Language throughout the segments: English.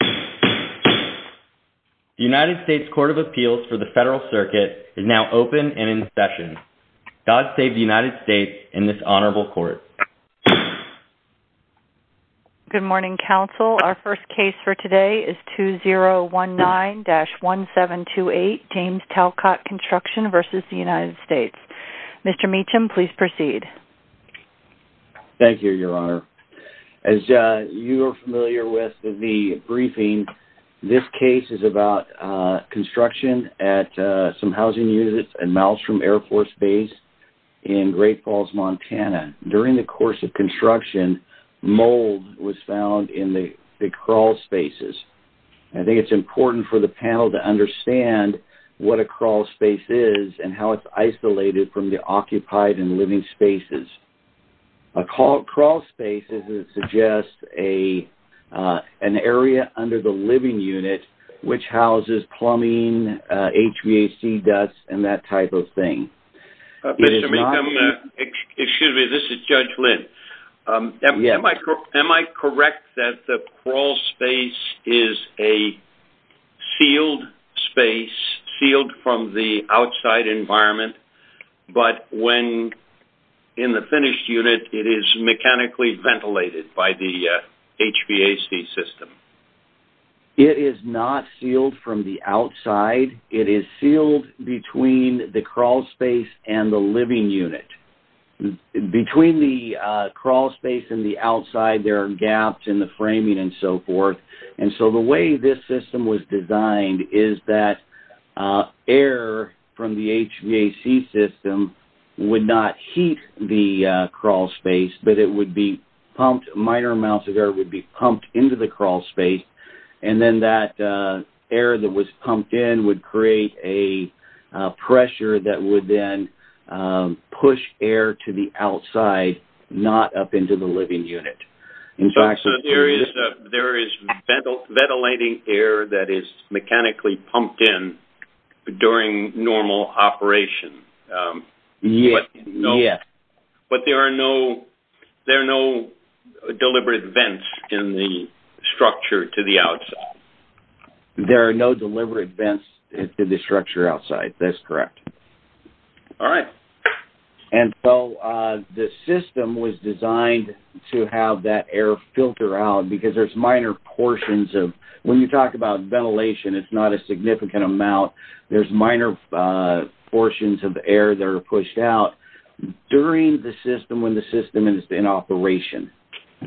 The United States Court of Appeals for the Federal Circuit is now open and in session. God save the United States and this honorable court. Good morning, counsel. Our first case for today is 2019-1728, James Talcott Construction v. United States. Mr. Meacham, please proceed. Thank you, your honor. As you are familiar with the briefing, this case is about construction at some housing units at Malmstrom Air Force Base in Great Falls, Montana. During the course of construction, mold was found in the crawl spaces. I think it's important for the panel to understand what a crawl space is and how it's isolated from the occupied and living spaces. A crawl space is an area under the living unit which houses plumbing, HVAC ducts, and that type of thing. Mr. Meacham, excuse me, this is Judge Lynn. Am I correct that the crawl space is a sealed space, sealed from the outside environment, but when in the finished unit, it is mechanically ventilated by the HVAC system? It is not sealed from the outside. It is sealed between the crawl space and the living unit. Between the crawl space and the outside, there are gaps in the framing and so forth. The way this system was designed is that air from the HVAC system would not heat the crawl space, but minor amounts of air would be pumped into the crawl space. Then that air that was pumped in would create a pressure that would then push air to the outside, not up into the living unit. So, there is ventilating air that is mechanically pumped in during normal operation, but there are no deliberate vents in the structure to the outside? There are no deliberate vents in the structure outside. That is correct. Alright. So, the system was designed to have that air filter out because there are minor portions of air. When you talk about ventilation, it is not a significant amount. There are minor when the system is in operation.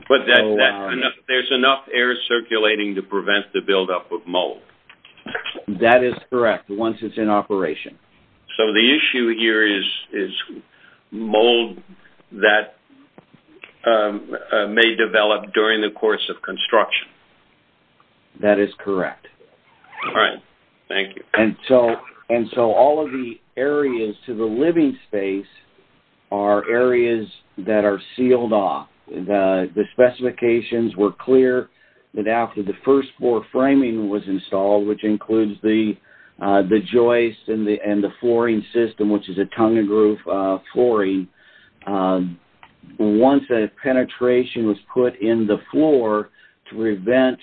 There is enough air circulating to prevent the buildup of mold? That is correct, once it is in operation. So, the issue here is mold that may develop during the course of construction? That is correct. Alright. Thank you. So, all of the areas to the living space are areas that are sealed off. The specifications were clear that after the first floor framing was installed, which includes the joist and the flooring system, which is a tongue and groove flooring, once a penetration was put in the floor to prevent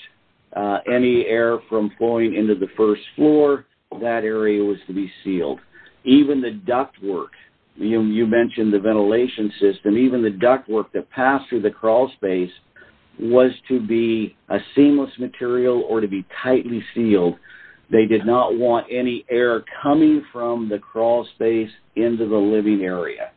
any air from flowing into the first floor, that area was to be sealed. Even the duct work, you mentioned the ventilation system, even the duct work that passed through the crawl space was to be a seamless material or to be tightly sealed. They did not want any air coming from the crawl space into the living area.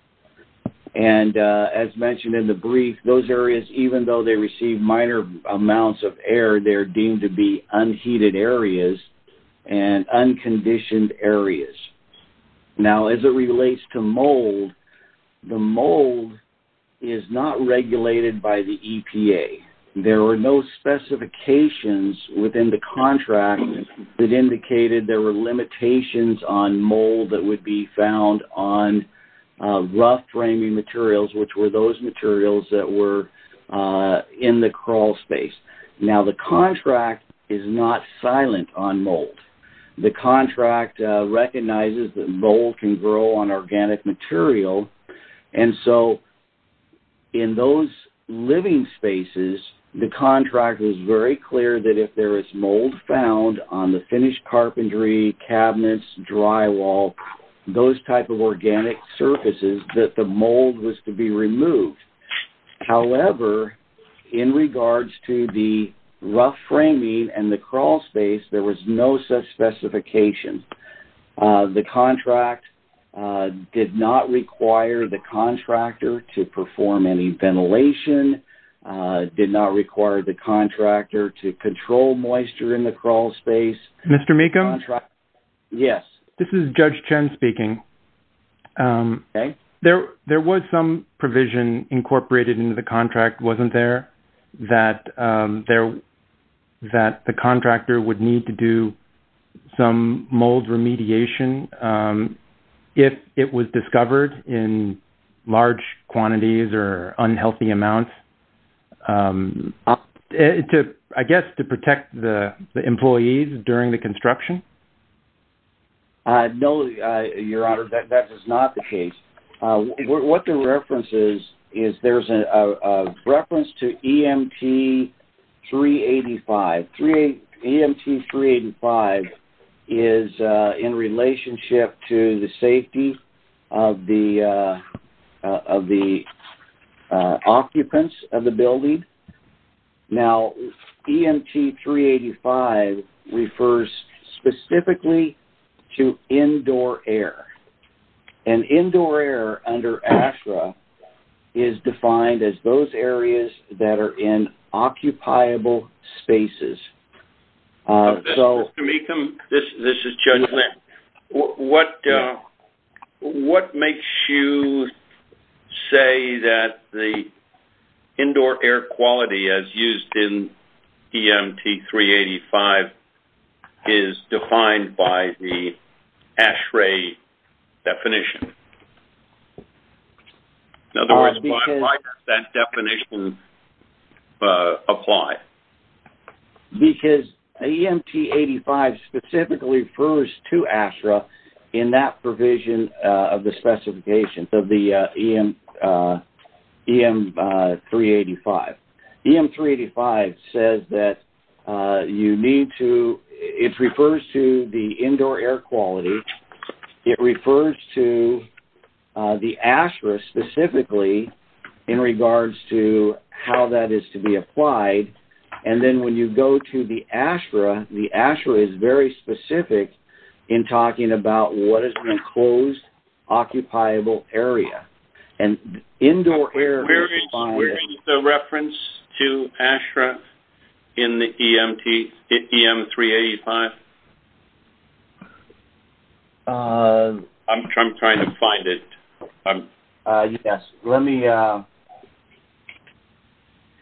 And as mentioned in the brief, those areas, even though they receive minor amounts of air, they are deemed to be unheated areas and unconditioned areas. Now, as it relates to mold, the mold is not regulated by the EPA. There were no specifications within the contract that indicated there were limitations on mold that would be found on rough framing materials, which were those materials that were in the crawl space. Now, the contract is not silent on mold. The contract recognizes that mold can grow on organic material. And so, in those living spaces, the contract was very clear that if there is mold found on the finished carpentry, cabinets, drywall, those type of organic surfaces, that the mold was to be removed. However, in regards to the rough framing and the crawl space, there was no such specification. The contract did not require the contractor to perform any Mr. Meekham? Yes. This is Judge Chen speaking. There was some provision incorporated into the contract, wasn't there, that the contractor would need to do some mold remediation if it was discovered in large quantities or unhealthy amounts, I guess to protect the employees during the construction? No, Your Honor, that is not the case. What the reference is, is there is a reference to EMT-385. EMT-385 is in relationship to the safety of the occupants of the building. Now, EMT-385 refers specifically to indoor air. And indoor air under ASRA is defined as those areas that are in occupiable spaces. Mr. Meekham, this is Judge Lynn. What makes you say that the indoor air quality, as used in EMT-385, is defined by the ASRA definition? In other words, why does that definition apply? Because EMT-385 specifically refers to ASRA in that provision of the specifications of EMT-385. EMT-385 refers to the indoor air quality. It refers to the ASRA specifically in regards to how that is to be applied. And then when you go to the ASRA, the ASRA is very specific in talking about what is an enclosed, occupiable area. And indoor air is defined as... Where is the reference to ASRA in the EMT-385? I'm trying to find it. Yes. Let me...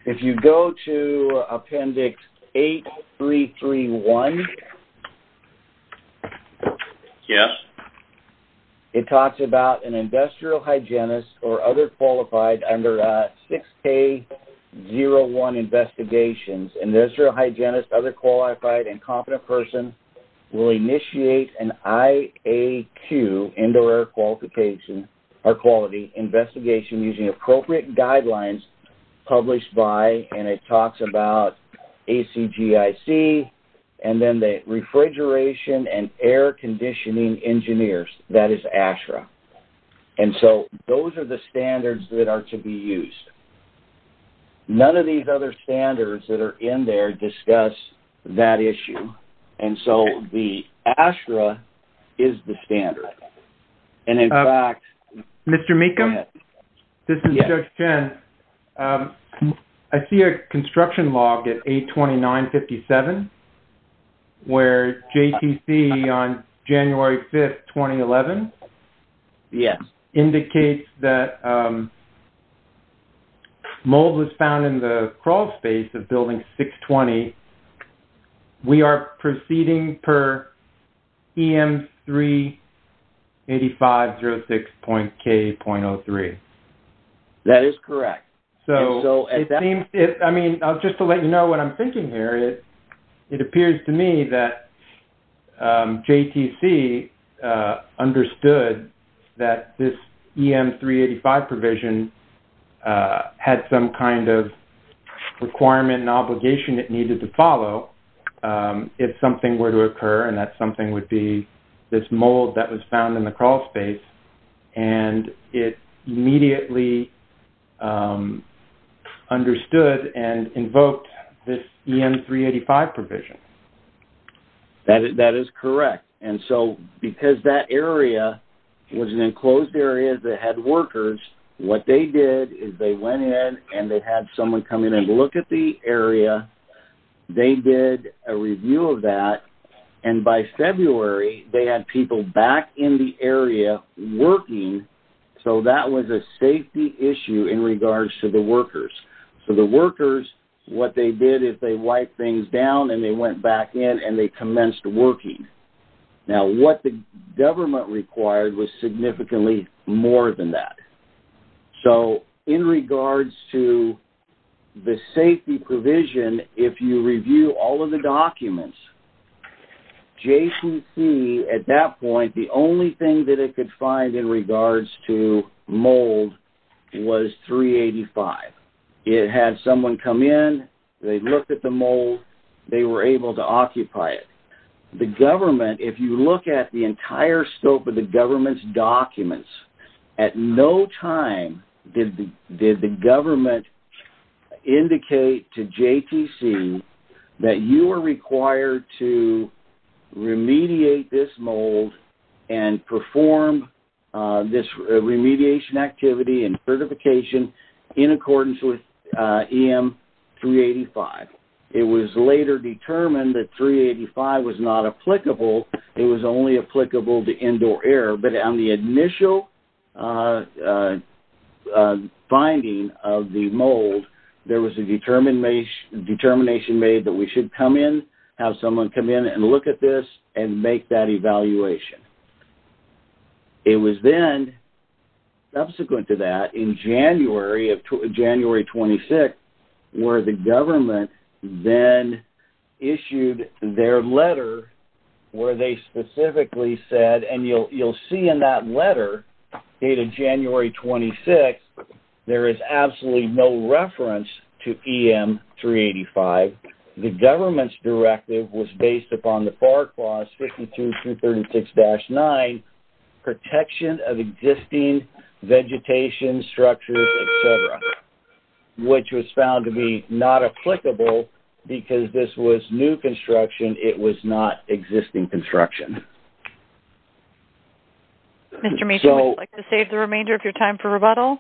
If you go to Appendix 8331, it talks about an industrial hygienist or other qualified under 6K01 investigations. Industrial hygienist, other qualified and air quality investigation using appropriate guidelines published by... And it talks about ACGIC and then the refrigeration and air conditioning engineers. That is ASRA. And so those are the standards that are to be used. None of these other standards that are in there discuss that issue. And so the ASRA is the standard. And in fact... Mr. Mecham? This is Judge Chen. I see a construction log at 829.57 where JTC on January 5th, 2011 indicates that mold was found in the crawl space of Building 620. We are proceeding per EM-38506.K.03. That is correct. So it seems... I mean, just to let you know what I'm thinking here, it appears to me that JTC understood that this EM-385 provision had some kind of requirement and obligation it needed to follow if something were to occur and that something would be this mold that was found in the crawl space. And it immediately understood and invoked this EM-385 provision. That is correct. And so because that area was an enclosed area that had workers, what they did is they went in and they had someone come in and look at the area. They did a review of that. And by February, they had people back in the area working. So that was a safety issue in regards to the workers. So the workers, what they did is they wiped things down and they went back in and they commenced working. Now, what the government required was significantly more than that. So in regards to the safety provision, if you review all of the documents, JTC at that point, the only thing that it could find in regards to mold was EM-385. It had someone come in, they looked at the mold, they were able to occupy it. The government, if you look at the entire scope of the government's documents, at no time did the government indicate to JTC that you are required to remediate this mold and perform this remediation activity and certification in accordance with EM-385. It was later determined that 385 was not applicable. It was only applicable to indoor air. But on the initial finding of the mold, there was a determination made that we should come in, have someone come in and look at this and make that evaluation. It was then, subsequent to that, in January of 26, where the government then issued their letter where they specifically said, and you'll see in that letter dated January 26, there is absolutely no reference to EM-385. The government's directive was based upon the FAR clause, 52-336-9, Protection of Existing Vegetation, Structures, etc., which was found to be not applicable because this was new construction. It was not existing construction. Mr. Mason, would you like to save the remainder of your time for rebuttal?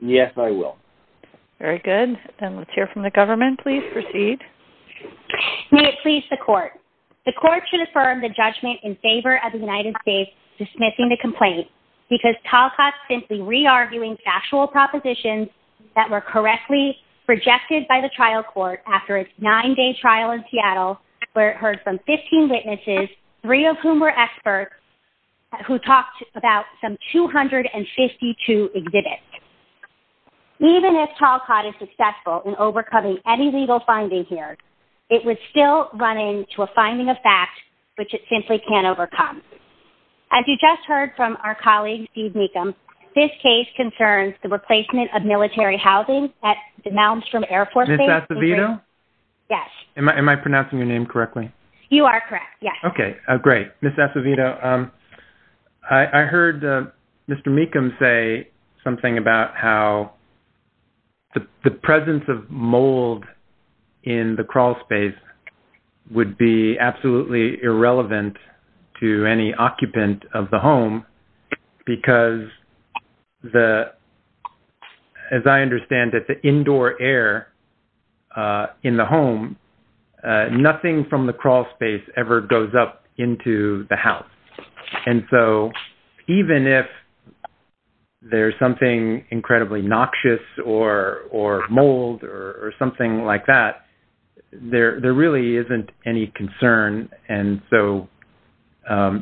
Yes, I will. Very good. Then let's hear from the government. Please proceed. May it please the Court. The Court should affirm the judgment in favor of the United States dismissing the complaint because Talcott simply re-arguing factual propositions that were correctly projected by the trial court after its nine-day trial in Seattle where it heard from 15 witnesses, three of whom were experts, who talked about some 252 exhibits. Even if Talcott is successful in overcoming any legal finding here, it was still running to a finding of facts which it simply can't overcome. As you just heard from our colleague, Steve Mecham, this case concerns the replacement of military housing at the Malmstrom Air Force Base. Ms. Acevedo? Yes. Am I pronouncing your name correctly? You are correct, yes. Okay, great. Ms. Acevedo, I heard Mr. Mecham say something about how the presence of mold in the crawl space would be absolutely irrelevant to any occupant of the home because, as I recall, no mold in the crawl space ever goes up into the house. And so, even if there's something incredibly noxious or mold or something like that, there really isn't any concern. And so,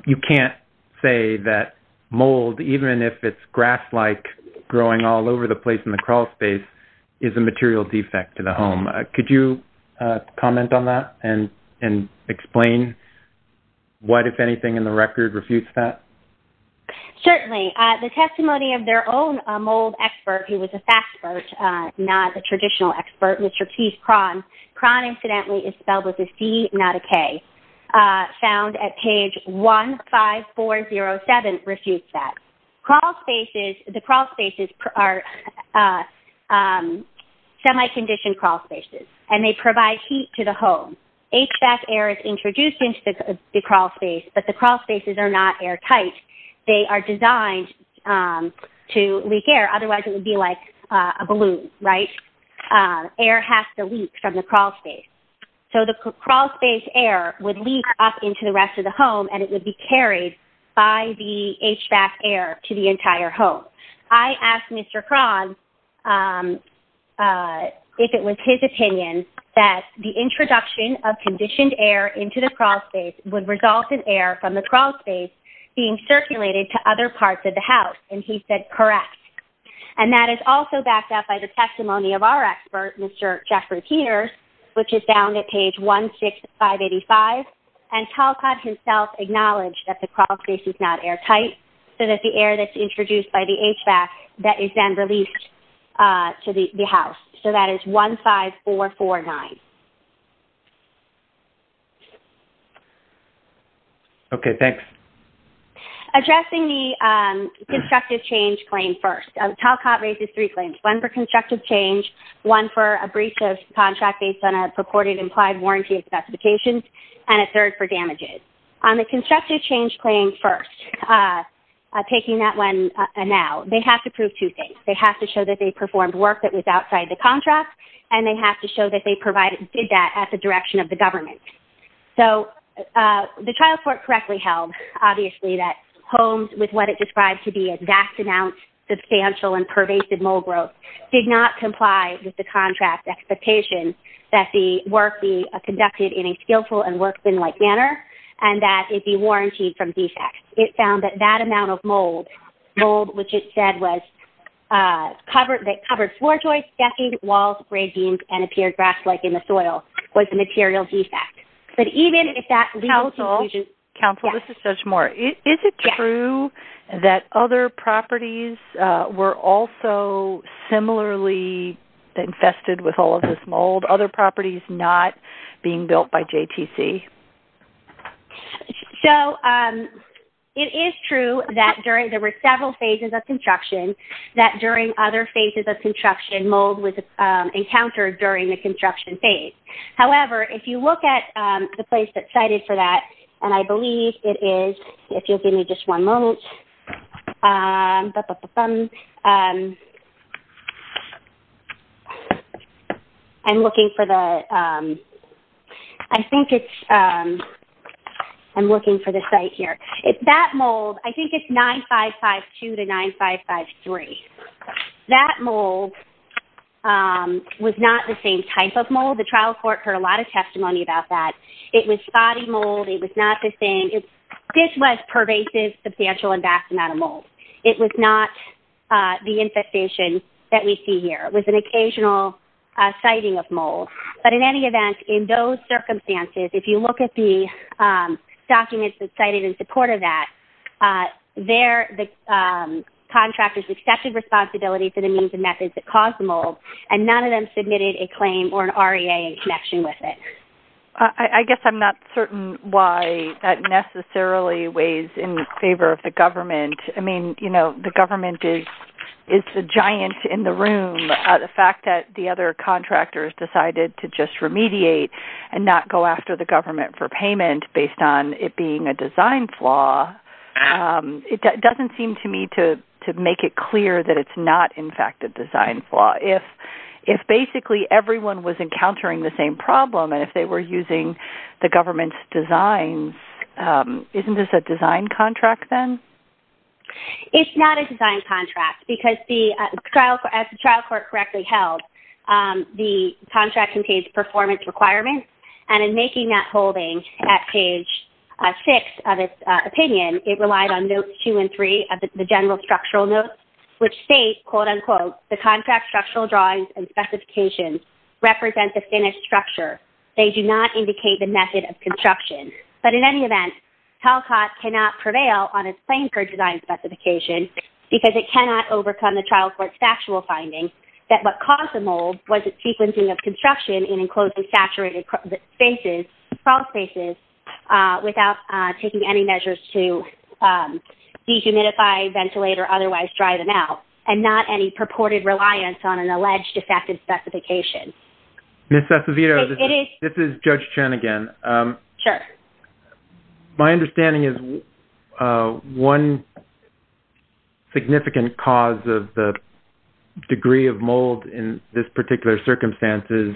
you can't say that mold, even if it's grass-like growing all over the place in the explain what, if anything in the record, refutes that? Certainly. The testimony of their own mold expert, who was a fact expert, not a traditional expert, Mr. Keith Kron. Kron, incidentally, is spelled with a C, not a K, found at page 15407, refutes that. Crawl spaces, the crawl spaces are semi-conditioned crawl spaces, and they provide heat to the home. HVAC air is introduced into the crawl space, but the crawl spaces are not airtight. They are designed to leak air. Otherwise, it would be like a balloon, right? Air has to leak from the crawl space. So, the crawl space air would leak up into the rest of the home, and it would be carried by the HVAC air to the entire home. So, I asked Mr. Kron if it was his opinion that the introduction of conditioned air into the crawl space would result in air from the crawl space being circulated to other parts of the house, and he said, correct. And that is also backed up by the testimony of our expert, Mr. Jeffrey Peters, which is down at page 16585, and Talcott himself acknowledged that the crawl space is not airtight, so that the air that's introduced by the HVAC that is then released to the house. So, that is 15449. Okay, thanks. Addressing the constructive change claim first. Talcott raises three claims, one for constructive change, one for a breach of contract based on a purported implied warranty of specifications, and a third for damages. On the constructive change claim first, taking that one now, they have to prove two things. They have to show that they performed work that was outside the contract, and they have to show that they did that at the direction of the government. So, the trial court correctly held, obviously, that homes with what it described to be a vast amount, substantial, and pervasive mole growth did not comply with the contract expectation that the work be conducted in a skillful and workmanlike manner, and that it be warrantied from defects. It found that that amount of mold, which it said was covered floor joists, decking, walls, grade beams, and appeared grass-like in the soil, was a material defect. But even if that legal conclusion... Counsel, this is Judge Moore. Is it true that other properties were also similarly infested with all of this mold, other properties not being built by JTC? So, it is true that there were several phases of construction, that during other phases of construction, mold was encountered during the construction phase. However, if you look at the place that's cited for that, and I believe it is... If you'll give me just one moment. I'm looking for the... I think it's... I'm looking for the site here. If that mold... I think it's 9552 to 9553. That mold was not the same type of mold. The trial court heard a lot of testimony about that. It was spotty mold. It was not the same... This was pervasive, substantial, and vast amount of mold. It was not the infestation that we see here. It was an occasional siting of mold. But in any event, in those circumstances, if you look at the documents that cited in support of that, there the contractors accepted responsibility for the means and methods that caused the mold, and none of them submitted a claim or an REA in connection with it. I guess I'm not certain why that necessarily weighs in favor of the government. I mean, you know, the government is the giant in the room. The fact that the other contractors decided to just remediate and not go after the government for payment based on it being a design flaw, it doesn't seem to me to make it clear that it's not, in fact, a design flaw. If basically everyone was encountering the same problem, and if they were using the government's designs, isn't this a design contract then? It's not a design contract, because as the trial court correctly held, the contract contains performance requirements, and in making that holding at page 6 of its opinion, it relied on notes 2 and 3 of the general structural notes, which state, quote, unquote, the contract structural drawings and specifications represent the finished structure. They do not indicate the method of construction. But in any event, TLCOT cannot prevail on its claim for design specification, because it cannot overcome the trial court's factual findings that what caused the mold was its sequencing of construction in enclosed and saturated spaces, crawl spaces, without taking any measures to dehumidify, ventilate, or otherwise dry them out, and not any purported reliance on an alleged defective specification. Ms. Acevedo, this is Judge Chen again. Sure. My understanding is one significant cause of the degree of mold in this particular circumstance is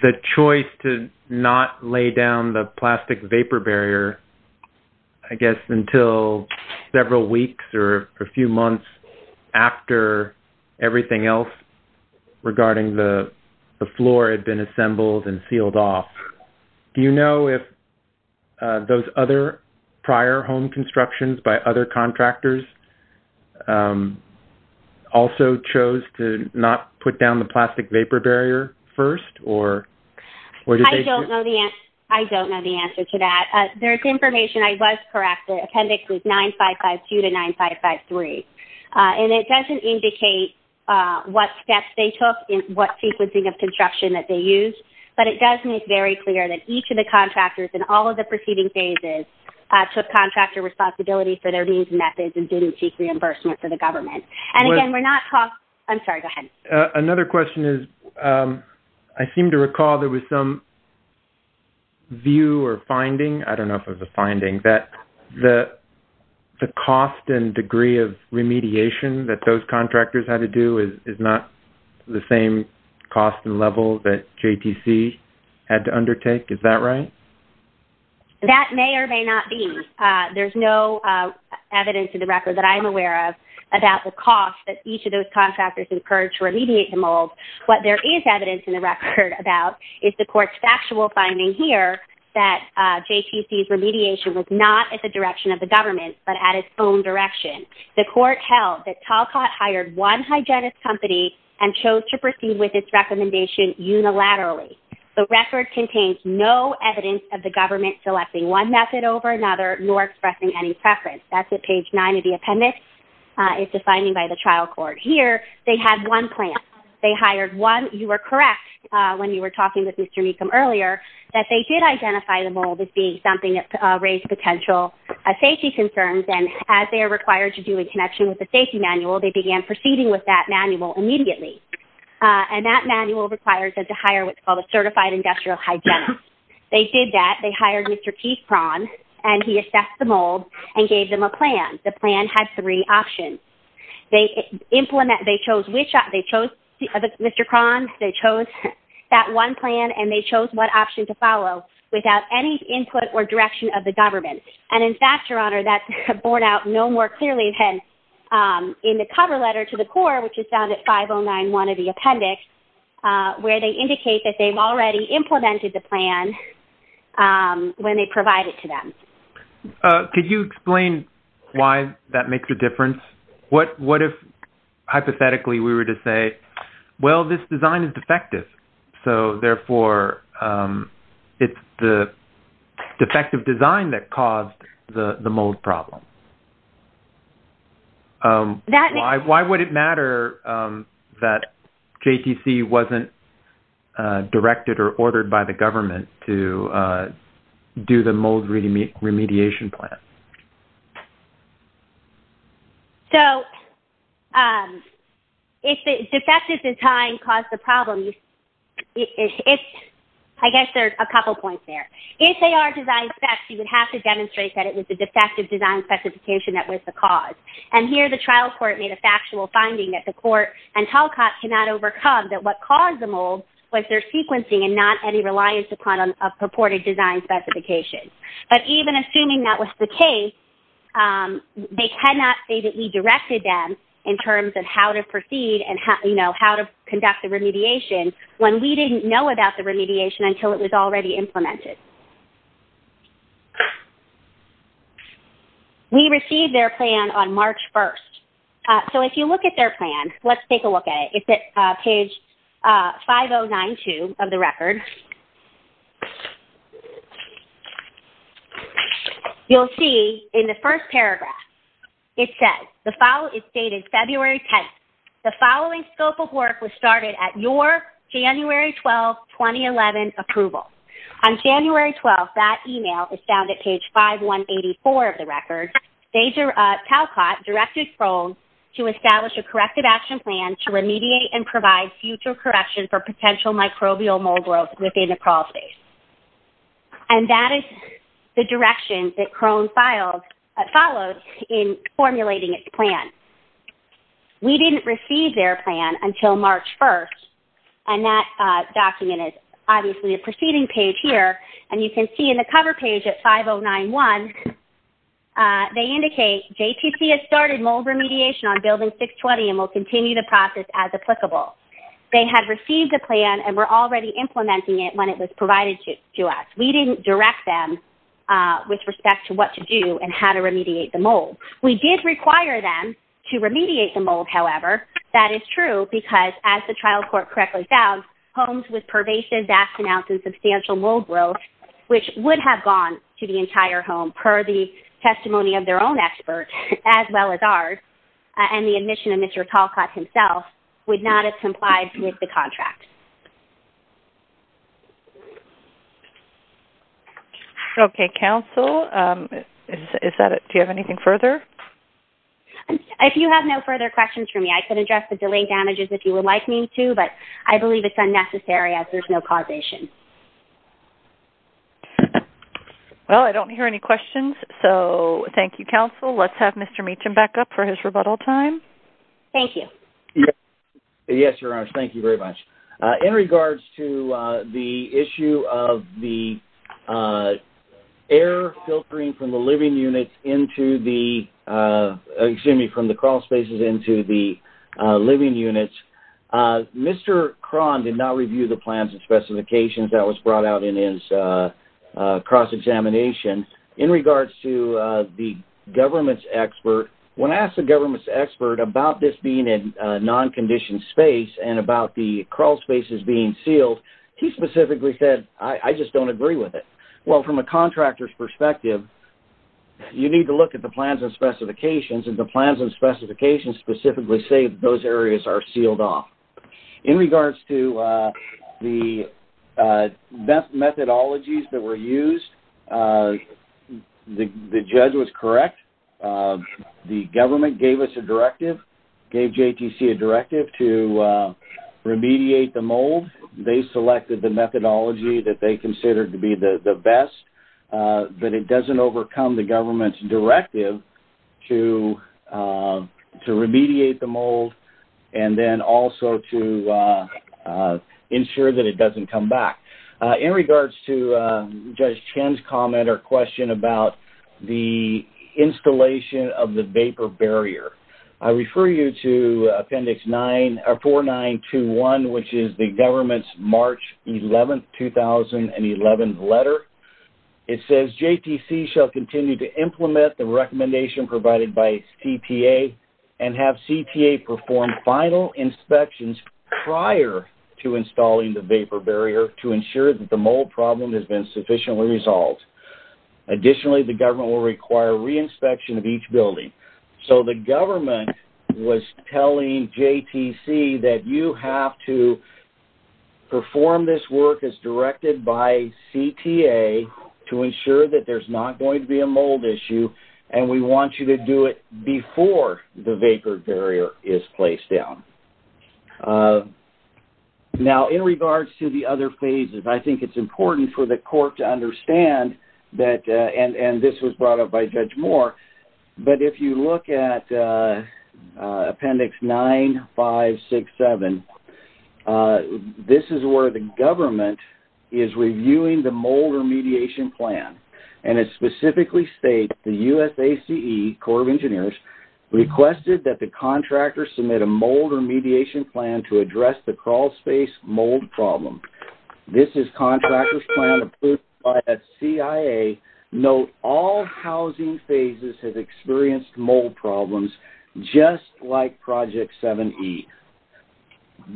the choice to not lay down the plastic vapor barrier, I guess, until several weeks or a few months after everything else regarding the floor had been assembled and sealed off. Do you know if those other prior home constructions by other contractors also chose to not put down the plastic vapor barrier first? I don't know the answer to that. There's information, I was correct, the appendix is 9552 to 9553. And it doesn't indicate what steps they took and what sequencing of construction that they used, but it does make very clear that each of the contractors in all of the preceding phases took contractor responsibility for their needs and methods and didn't seek reimbursement for the government. And again, we're not talking – I'm sorry, go ahead. Okay. Another question is, I seem to recall there was some view or finding, I don't know if it was a finding, that the cost and degree of remediation that those contractors had to do is not the same cost and level that JTC had to undertake. Is that right? That may or may not be. There's no evidence in the record that I'm aware of about the cost that those contractors incurred to remediate the mold. What there is evidence in the record about is the court's factual finding here that JTC's remediation was not at the direction of the government, but at its own direction. The court held that Talcott hired one hygienist company and chose to proceed with its recommendation unilaterally. The record contains no evidence of the government selecting one method over another nor expressing any preference. That's They hired one – you were correct when you were talking with Mr. Meekum earlier that they did identify the mold as being something that raised potential safety concerns, and as they are required to do in connection with the safety manual, they began proceeding with that manual immediately. And that manual requires them to hire what's called a certified industrial hygienist. They did that. They hired Mr. P. Prawn, and he assessed the mold and gave them a plan. The plan had three options. They chose Mr. Prawn, they chose that one plan, and they chose what option to follow without any input or direction of the government. And in fact, Your Honor, that's borne out no more clearly than in the cover letter to the court, which is found at 5091 of the appendix, where they indicate that they've already implemented the plan when they provide it to them. Could you explain why that makes a difference? What if, hypothetically, we were to say, well, this design is defective, so therefore it's the defective design that caused the mold problem? Why would it matter that JTC wasn't directed or ordered by the government to do the mold remediation plan? So, if the defective design caused the problem, I guess there's a couple points there. If they are design defects, you would have to demonstrate that it was the defective design specification that was the cause. And here, the trial court made a factual finding that the court and telecom cannot overcome that what caused the mold was their sequencing and not any reliance upon a purported design specification. But even assuming that was the case, they cannot say that we directed them in terms of how to proceed and how to conduct the remediation when we didn't know about the remediation until it was already implemented. We received their plan on March 1st. So, if you look at their plan, let's take a look at it. It's at page 5092 of the record. You'll see in the first paragraph, it says, it's dated February 10th. The following scope of work was started at your January 12, 2011 approval. On January 12th, that email is found at page 5184 of the record. CalCOT directed the action plan to remediate and provide future correction for potential microbial mold growth within the crawl space. And that is the direction that Crone followed in formulating its plan. We didn't receive their plan until March 1st. And that document is obviously a proceeding page here. And you can see in the cover page at 5091, they indicate JPC has started mold remediation on building 620 and will continue the process as applicable. They had received the plan and were already implementing it when it was provided to us. We didn't direct them with respect to what to do and how to remediate the mold. We did require them to remediate the mold, however. That is true because, as the trial court correctly found, homes with pervasive, vast amounts and substantial mold growth, which would have gone to the entire home, per the testimony of their own expert, as well as ours, and the admission of Mr. Talcott himself, would not have complied with the contract. Okay. Counsel, do you have anything further? If you have no further questions for me, I could address the delaying damages if you would like me to, but I believe it's unnecessary Well, I don't hear any questions, so thank you, Counsel. Let's have Mr. Meacham back up for his rebuttal time. Thank you. Yes, Your Honors. Thank you very much. In regards to the issue of the air filtering from the living units into the, excuse me, from the crawl spaces into the living units, Mr. Cron did not review the plans and specifications that was brought out in his cross-examination. In regards to the government's expert, when I asked the government's expert about this being a non-conditioned space and about the crawl spaces being sealed, he specifically said, I just don't agree with it. Well, from a contractor's perspective, you need to look at the plans and specifications, and the plans and specifications specifically say those areas are sealed off. In regards to the methodologies that were used, the judge was correct. The government gave us a directive, gave JTC a directive to remediate the mold. They selected the methodology that they considered to be the best, but it doesn't overcome the government's commitment to remediate the mold and then also to ensure that it doesn't come back. In regards to Judge Chen's comment or question about the installation of the vapor barrier, I refer you to Appendix 4921, which is the government's March 11, 2011 letter. It says, JTC shall continue to implement the recommendation provided by CTA and have CTA perform final inspections prior to installing the vapor barrier to ensure that the mold problem has been sufficiently resolved. Additionally, the government will require re-inspection of each building. So, the government was telling JTC that you have to perform this work as there's not going to be a mold issue, and we want you to do it before the vapor barrier is placed down. Now, in regards to the other phases, I think it's important for the court to understand, and this was brought up by Judge Moore, but if you look at Appendix 9567, this is where the government is reviewing the mold remediation plan, and it specifically states the USACE, Corps of Engineers, requested that the contractor submit a mold remediation plan to address the crawlspace mold problem. This is contractor's plan approved by the CIA. Note, all housing phases have experienced mold problems just like Project 7E.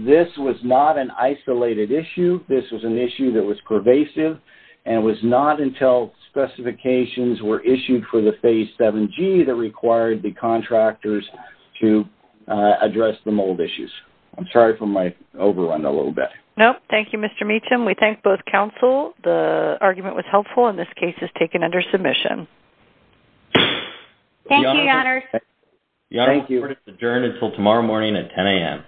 This was not an isolated issue. This was an issue that was pervasive and was not until specifications were issued for the Phase 7G that required the contractors to address the mold issues. I'm sorry for my overrun a little bit. No, thank you, Mr. Meacham. We thank both counsel. The argument was helpful, and this case is taken under submission. Thank you, Your Honor. Your Honor, the court is adjourned until tomorrow morning at 10 a.m. Thank you.